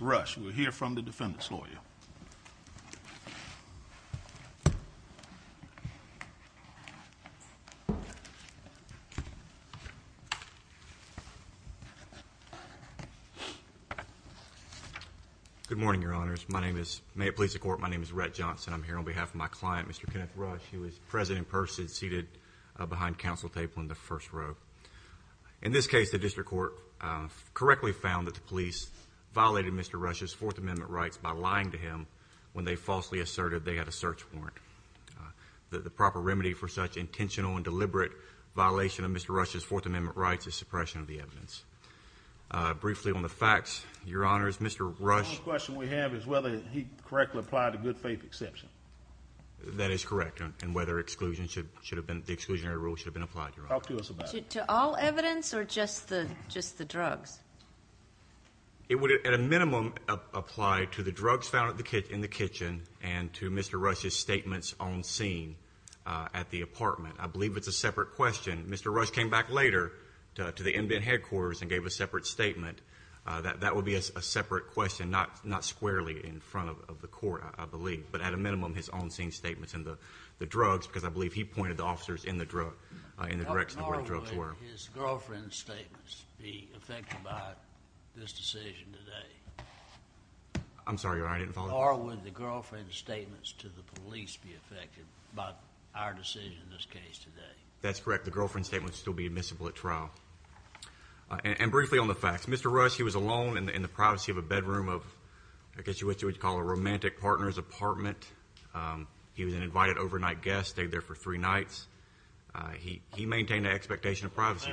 We'll hear from the defendant's lawyer. Good morning, your honors. My name is, may it please the court, my name is Rhett Johnson. I'm here on behalf of my client, Mr. Kenneth Rush. He was present in person, seated behind counsel table in the first row. In this case, the district court correctly found that the police violated Mr. Rush's Fourth Amendment rights by lying to him when they falsely asserted they had a search warrant. The proper remedy for such intentional and deliberate violation of Mr. Rush's Fourth Amendment rights is suppression of the evidence. Briefly on the facts, your honors, Mr. Rush... The only question we have is whether he correctly applied a good faith exception. That is correct, and whether exclusion should have been, the exclusionary rule should have been applied, your honor. Talk to us about it. To all evidence or just the drugs. It would, at a minimum, apply to the drugs found in the kitchen and to Mr. Rush's statements on scene at the apartment. I believe it's a separate question. Mr. Rush came back later to the in-bed headquarters and gave a separate statement. That would be a separate question, not squarely in front of the court, I believe, but at a minimum, his on-scene statements in the drugs, because I believe he pointed the officers in the direction of where the drugs were. Would his girlfriend's statements be affected by this decision today? I'm sorry, your honor, I didn't follow that. Or would the girlfriend's statements to the police be affected by our decision in this case today? That's correct. The girlfriend's statements would still be admissible at trial. And briefly on the facts, Mr. Rush, he was alone in the privacy of a bedroom of, I guess you would call it a romantic partner's apartment. He was an invited overnight guest, stayed there for three nights. He maintained an expectation of privacy.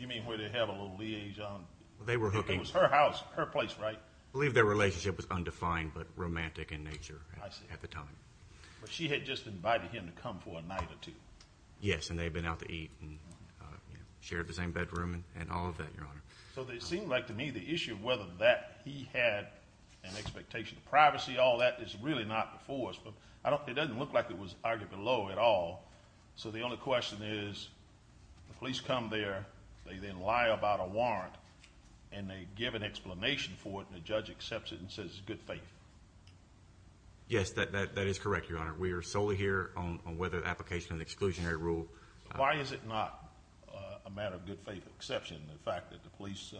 You mean where they had a little liaison? It was her house, her place, right? I believe their relationship was undefined, but romantic in nature at the time. But she had just invited him to come for a night or two. Yes, and they've been out to eat and shared the same bedroom and all of that, your honor. So it seemed like to me the issue of whether that he had an expectation of privacy, all that, is really not before us, but I don't, it doesn't look like it was arguably low at all. So the only question is, the police come there, they then lie about a warrant, and they give an explanation for it, and the judge accepts it and says it's good faith. Yes, that is correct, your honor. We are solely here on whether the application of the exclusionary rule. Why is it not a matter of good faith exception, the fact that the police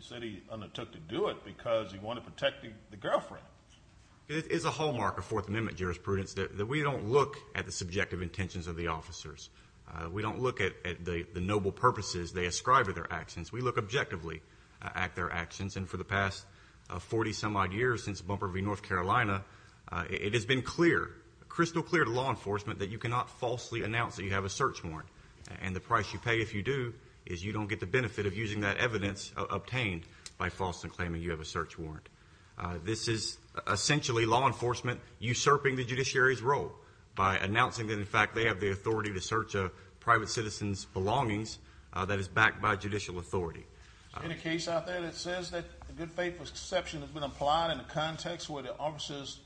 said he undertook to do it because he wanted to protect the girlfriend? It is a hallmark of Fourth Amendment jurisprudence that we don't look at the subjective intentions of the officers. We don't look at the noble purposes they ascribe to their actions. We look objectively at their actions, and for the past 40 some odd years since Bumper v. North Carolina, it has been clear, crystal clear to law enforcement, that you cannot falsely announce that you have a search warrant. And the price you pay if you do is you don't get the benefit of using that evidence obtained by false and claiming you have a search warrant. This is essentially law enforcement usurping the by announcing that, in fact, they have the authority to search a private citizen's belongings that is backed by judicial authority. In a case out there that says that good faith exception has been applied in the context where the officers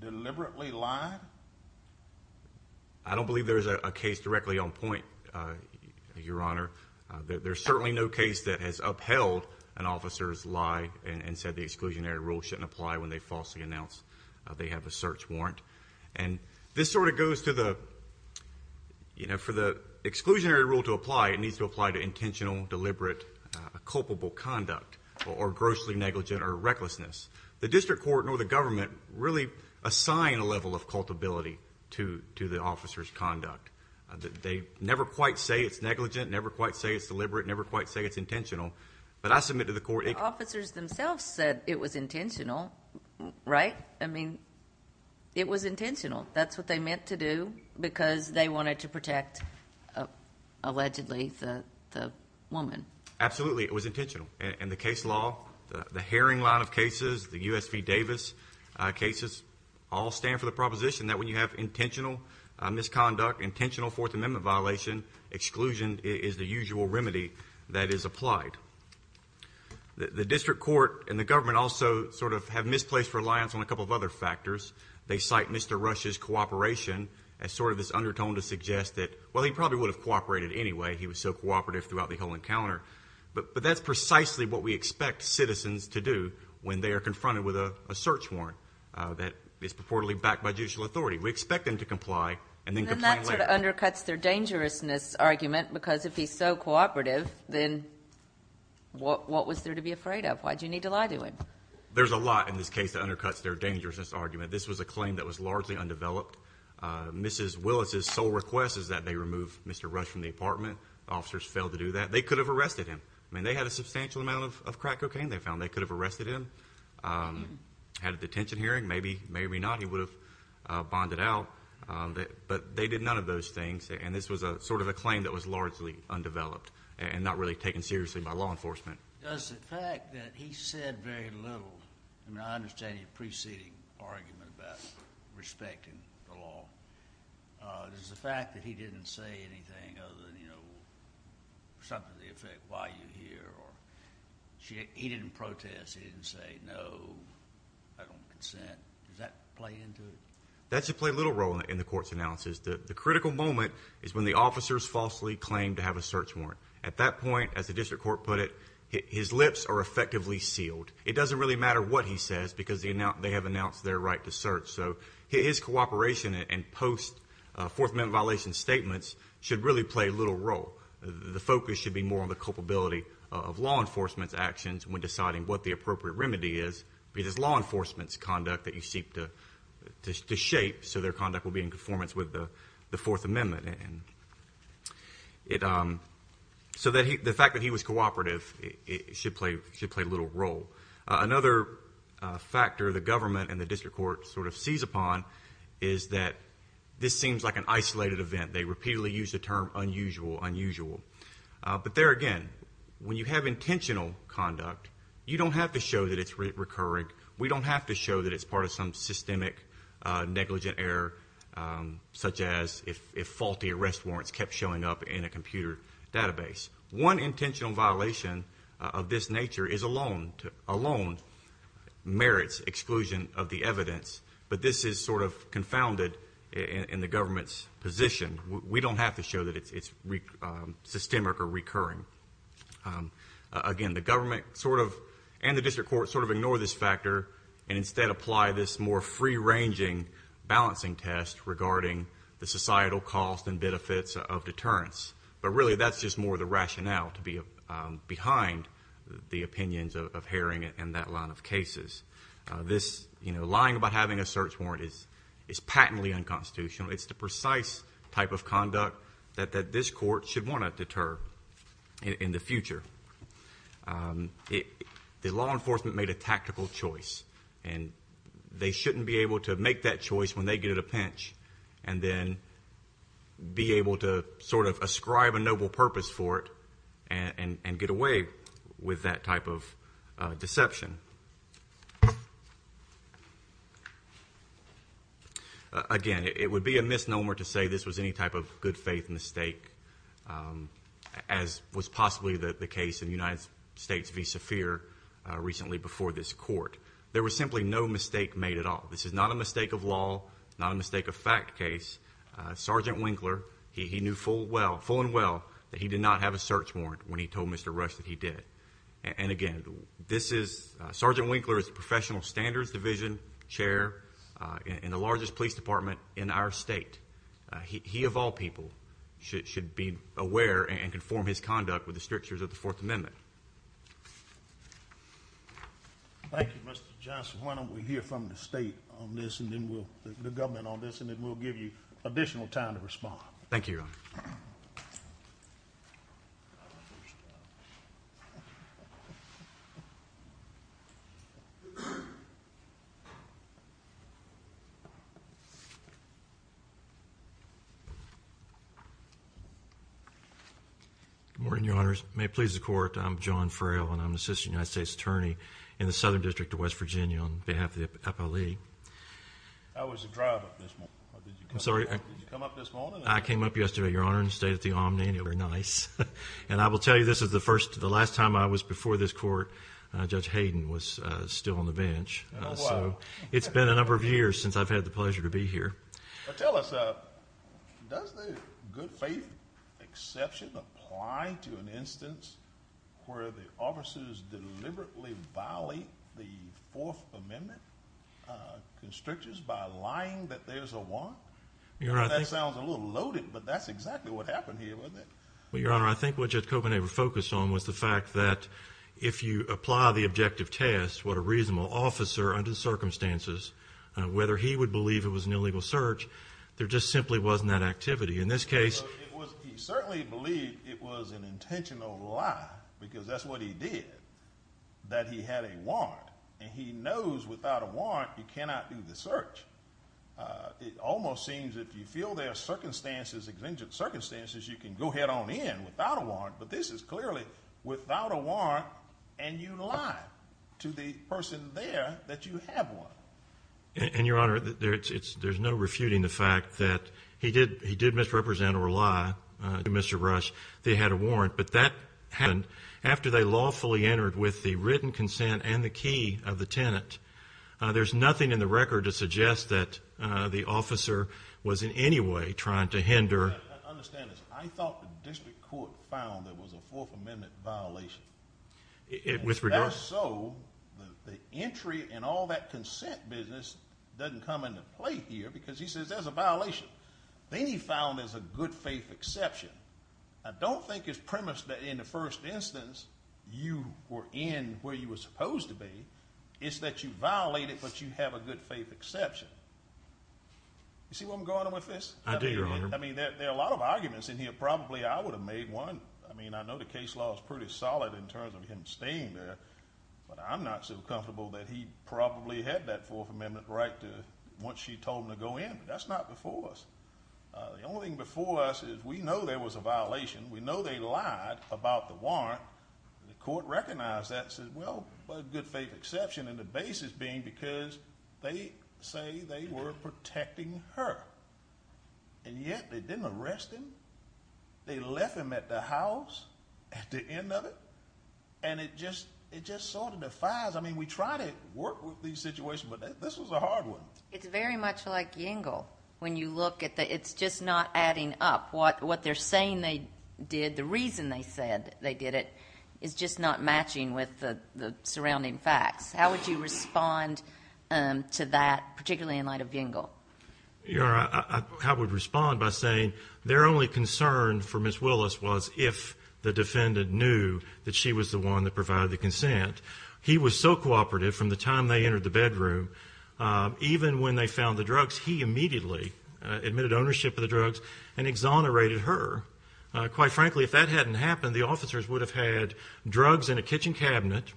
deliberately lie. I don't believe there's a case directly on point, your honor. There's certainly no case that has upheld an officer's lie and said the exclusionary rule shouldn't apply when they falsely announced they have a search warrant. And this sort of goes to the, you know, for the exclusionary rule to apply, it needs to apply to intentional, deliberate, culpable conduct or grossly negligent or recklessness. The district court nor the government really assign a level of cultability to the officer's conduct. They never quite say it's negligent, never quite say it's deliberate, never quite say it's intentional. But I submit to the court... The officers themselves said it was intentional, right? I mean, it was intentional. That's what they meant to do because they wanted to protect allegedly the woman. Absolutely. It was intentional. And the case law, the Haring line of cases, the USP Davis cases all stand for the proposition that when you have intentional misconduct, intentional Fourth Amendment violation, exclusion is the usual remedy that is applied. The district court and the government also sort of have misplaced reliance on a couple of other factors. They cite Mr. Rush's cooperation as sort of this undertone to suggest that, well, he probably would have cooperated anyway. He was so cooperative throughout the whole encounter. But that's precisely what we expect citizens to do when they are confronted with a search warrant that is purportedly backed by judicial authority. We expect them to comply and then complain later. And that sort of undercuts their dangerousness argument because if he's so cooperative, then what was there to be afraid of? Why do you need to lie to him? There's a lot in this case that undercuts their dangerousness argument. This was a claim that was largely undeveloped. Mrs. Willis's sole request is that they remove Mr. Rush from the apartment. Officers failed to do that. They could have arrested him. I mean, they had a substantial amount of crack cocaine they found. They could have arrested him, had a detention hearing. Maybe, maybe not. He would have bonded out. But they did none of those things. And this was sort of a claim that was largely undeveloped and not really taken seriously by law enforcement. Does the fact that he said very little, I mean, I understand your preceding argument about respecting the law. Does the fact that he didn't say anything other than, you know, something to the effect, why are you here? He didn't protest. He didn't say, no, I don't consent. Does that play into it? That should play little role in the court's analysis. The critical moment is when the officers falsely claim to have a search warrant. At that point, as the district court put it, his lips are effectively sealed. It doesn't really matter what he says because they have announced their right to search. So his cooperation and post-Fourth Amendment violation statements should really play little role. The focus should be more on the culpability of law enforcement's actions when deciding what the appropriate remedy is because law enforcement's actions are to shape so their conduct will be in conformance with the Fourth Amendment. So the fact that he was cooperative should play little role. Another factor the government and the district court sort of sees upon is that this seems like an isolated event. They repeatedly use the term unusual, unusual. But there again, when you have intentional conduct, you don't have to show that it's recurring. We don't have to show that it's part of some systemic negligent error, such as if faulty arrest warrants kept showing up in a computer database. One intentional violation of this nature alone merits exclusion of the evidence. But this is sort of confounded in the government's position. We don't have to show that it's systemic or recurring. Again, the government and the district court sort of ignore this factor and instead apply this more free-ranging balancing test regarding the societal cost and benefits of deterrence. But really, that's just more the rationale to be behind the opinions of Haring and that line of cases. This, you know, lying about having a search warrant is patently unconstitutional. It's the precise type of conduct that this court should want to deter in the future. The law enforcement made a tactical choice and they shouldn't be able to make that choice when they get it a pinch and then be able to sort of ascribe a noble purpose for it and get away with that type of deception. Again, it would be a misnomer to say this was any type of good faith mistake, as was possibly the United States v. Saphir recently before this court. There was simply no mistake made at all. This is not a mistake of law, not a mistake of fact case. Sergeant Winkler, he knew full well, full and well, that he did not have a search warrant when he told Mr. Rush that he did. And again, this is, Sergeant Winkler is the professional standards division chair in the largest police department in our state. He, of all people, should be aware and conform his conduct with the law. Thank you. Thank you, Mr. Johnson. Why don't we hear from the state on this and then we'll, the government on this, and then we'll give you additional time to respond. Thank you, Your Honor. Good morning, Your Honors. May it please the court, I'm John Frayl and I'm an assistant United States Attorney in the Southern District of West Virginia on behalf of the Apo Lee. I came up yesterday, Your Honor, and stayed at the Omni, and they were nice. And I will tell you, this is the first, the last time I was before this court, Judge Hayden was still on the bench. It's been a number of years since I've had the pleasure to be here. Tell us, does the good faith exception apply to an instance where the officers deliberately violate the Fourth Amendment constrictions by lying that there's a warrant? That sounds a little loaded, but that's exactly what happened here, wasn't it? Well, Your Honor, I think what Judge Kopenhaver focused on was the fact that if you apply the objective test, what a reasonable officer under the circumstances, whether he would believe it was an illegal search, there just simply wasn't that activity. In this case, he certainly believed it was an intentional lie, because that's what he did, that he had a warrant. And he knows without a warrant, you cannot do the search. It almost seems that if you are under the circumstances, you can go head-on in without a warrant, but this is clearly without a warrant, and you lie to the person there that you have one. And Your Honor, there's no refuting the fact that he did misrepresent or lie to Mr. Rush that he had a warrant. But that happened after they lawfully entered with the written consent and the key of the tenant. There's nothing in the record to suggest that the officer was in any way trying to hinder... Your Honor, I understand this. I thought the district court found there was a Fourth Amendment violation. With regard... And so, the entry and all that consent business doesn't come into play here, because he says there's a violation. Then he found there's a good faith exception. I don't think it's premised that in the first instance, you were in where you were supposed to be. It's that you violated, but you have a good faith exception. You see where I'm going with this? I do, Your Honor. I mean, there are a lot of arguments in here. Probably I would have made one. I mean, I know the case law is pretty solid in terms of him staying there, but I'm not so comfortable that he probably had that Fourth Amendment right once she told him to go in. But that's not before us. The only thing before us is we know there was a violation. We know they lied about the warrant. The court recognized that and said, well, good faith exception, and the basis being because they say they were protecting her. And yet they didn't arrest him. They left him at the house at the end of it, and it just sort of defies. I mean, we try to work with these situations, but this was a hard one. It's very much like Yingle. When you look at it, it's just not adding up. What they're saying they did, the reason they said they did it, is just not matching with the surrounding facts. How would you respond to that, particularly in light of Yingle? Your Honor, I would respond by saying their only concern for Ms. Willis was if the defendant knew that she was the one that provided the consent. He was so cooperative from the time they entered the bedroom. Even when they found the drugs, he immediately admitted ownership of the drugs and exonerated her. Quite frankly, if that hadn't happened, the officers would have had drugs in a kitchen cabinet,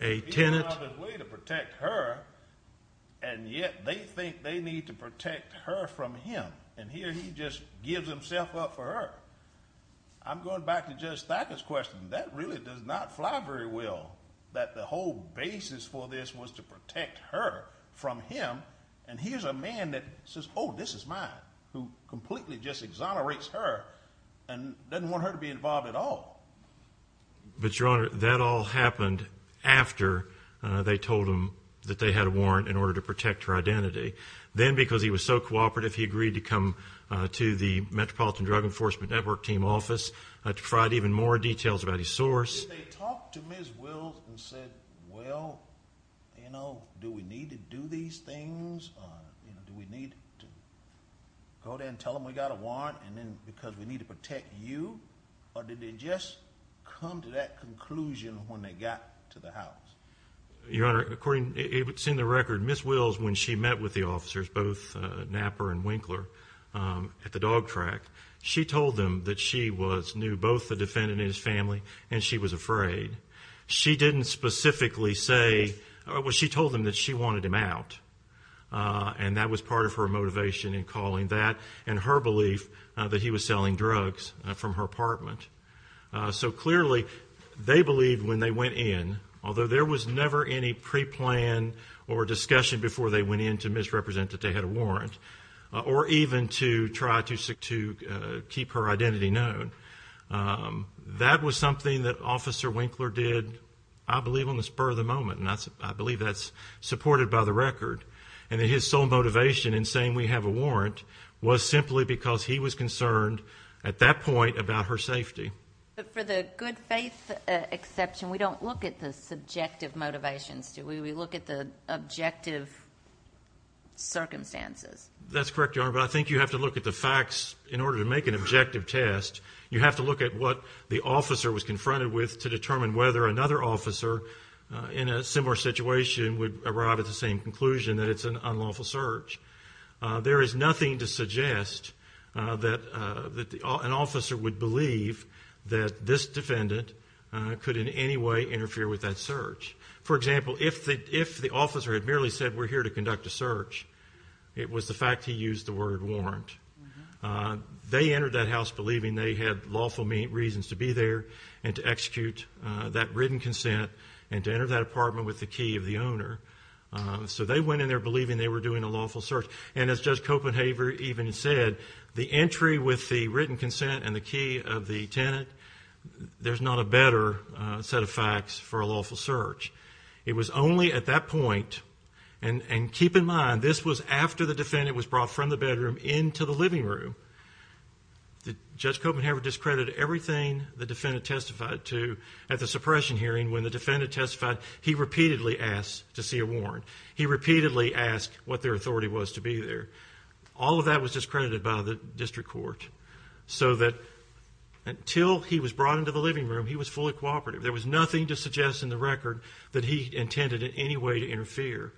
a tenant. He went out of his way to protect her, and yet they think they need to protect her from him. And here he just gives himself up for her. I'm going back to Judge Thacker's question. That really does not fly very well, that the whole basis for this was to protect her from him. And here's a man that says, oh, this is mine, who completely just exonerates her and doesn't want her to be involved at all. But, Your Honor, that all happened after they told him that they had a warrant in order to protect her identity. Then, because he was so cooperative, he agreed to come to the Metropolitan Drug Enforcement Network team office to provide even more details about his source. Did they talk to Ms. Willis and said, well, you know, do we need to do these things? Do we need to go there and tell them we got a warrant because we need to protect you? Or did they just come to that conclusion when they got to the house? Your Honor, according to the record, Ms. Willis, when she met with the officers, both Knapper and Winkler, at the dog track, she told them that she knew both the defendant and his family and she was afraid. She didn't specifically say, well, she told them that she wanted him out. And that was part of her motivation in calling that and her belief that he was selling drugs from her apartment. So, clearly, they believed when they went in, although there was never any pre-plan or discussion before they went in to misrepresent that they had a warrant, or even to try to keep her identity known, that was something that Officer Winkler did, I believe, on the spur of the moment. And I believe that's supported by the record. And that his sole motivation in saying we have a warrant was simply because he was concerned at that point about her safety. But for the good faith exception, we don't look at the subjective motivations, do we? We look at the objective circumstances. That's correct, Your Honor. But I think you have to look at the facts in order to make an objective test. You have to look at what the officer was confronted with to determine whether another officer in a similar situation would arrive at the same conclusion that it's an unlawful search. There is nothing to suggest that an officer would believe that this defendant could in any way interfere with that search. For example, if the officer had merely said we're here to conduct a search, it was the fact he used the word warrant. They entered that house believing they had lawful reasons to be there and to execute that written consent and to enter that apartment with the key of the owner. So they went in there believing they were doing a lawful search. And as Judge Copenhaver even said, the entry with the written consent and the key of the tenant, there's not a better set of facts for a lawful search. It was only at that point, and keep in mind this was after the defendant was brought from the bedroom into the living room. Judge Copenhaver discredited everything the defendant testified to at the suppression hearing when the defendant testified. He repeatedly asked to see a warrant. He repeatedly asked what their authority was to be there. All of that was discredited by the district court so that until he was brought into the living room, he was fully cooperative. There was nothing to suggest in the record that he intended in any way to interfere.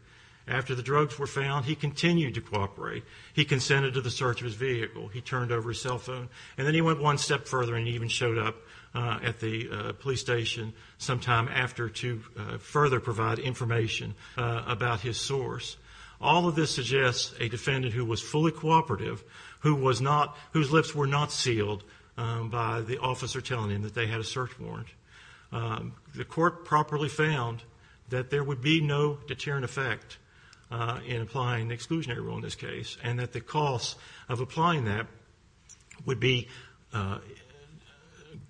After the drugs were found, he continued to cooperate. He consented to the search of his vehicle. He turned over his cell phone. And then he went one step further and he even showed up at the police station sometime after to further provide information about his source. All of this suggests a defendant who was fully cooperative, whose lips were not sealed by the officer telling him that they had a search warrant. The court properly found that there would be no deterrent effect in applying exclusionary rule in this case and that the cost of applying that would be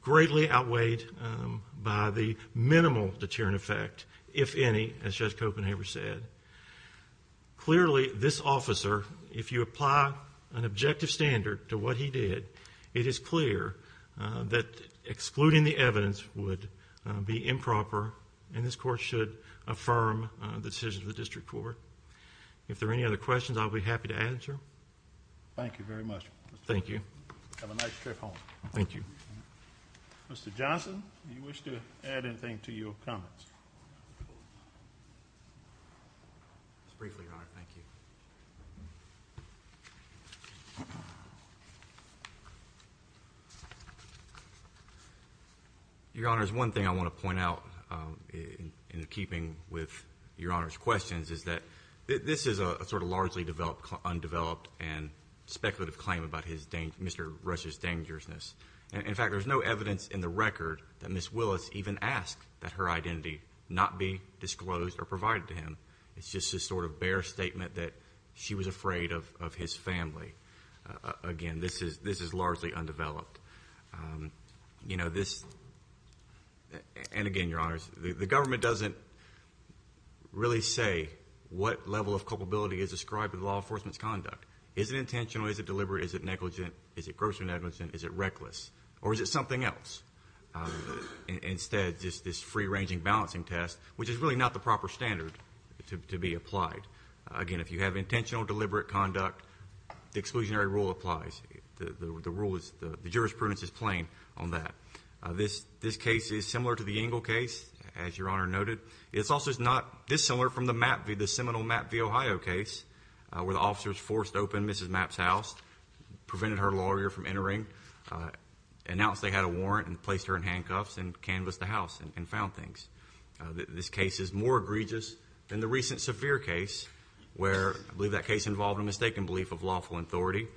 greatly outweighed by the minimal deterrent effect, if any, as Judge Copenhaver said. Clearly, this officer, if you apply an objective standard to what he did, it is clear that excluding the evidence would be improper and this court should affirm the decision of the district court. If there are any other questions, I'll be happy to answer. Thank you very much. Thank you. Have a nice trip home. Thank you. Mr. Johnson, do you wish to add anything to your comments? Just briefly, Your Honor. Thank you. Your Honor, there's one thing I want to point out in keeping with Your Honor's questions is that this is a sort of largely undeveloped and speculative claim about Mr. Rush's dangerousness. In fact, there's no evidence in the record that Ms. Willis even asked that her identity not be disclosed or provided to him. It's just this sort of bare statement that she was afraid of his family. Again, this is largely undeveloped. And again, Your Honors, the government doesn't really say what level of culpability is described in law enforcement's conduct. Is it intentional? Is it deliberate? Is it negligent? Is it grossly negligent? Is it reckless? Or is it something else? Instead, just this free-ranging balancing test, which is really not the proper standard to be applied. Again, if you have intentional, deliberate conduct, the exclusionary rule applies. The rule is the jurisprudence is plain on that. This case is similar to the Engle case, as Your Honor noted. It's also not this similar from the Seminole MAP v. Ohio case, where the officer was forced to open Mrs. MAP's house, prevented her lawyer from entering, announced they had a warrant and placed her in handcuffs and canvassed the house and found things. This case is more egregious than the recent severe case, where I believe that case involved a mistaken belief of lawful authority,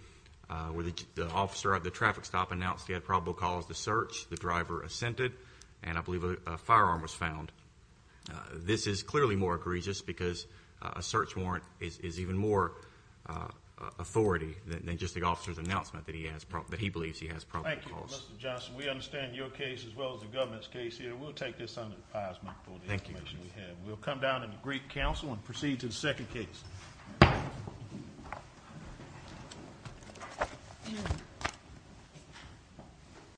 where the officer at the traffic stop announced he had probable cause to search. The driver assented, and I believe a firearm was found. This is clearly more egregious because a search warrant is even more authority than just the officer's announcement that he believes he has probable cause. Thank you, Mr. Johnson. We understand your case as well as the government's case here. We'll take this under advisement for the information we have. We'll come down and agree to counsel and proceed to the second case. Thank you.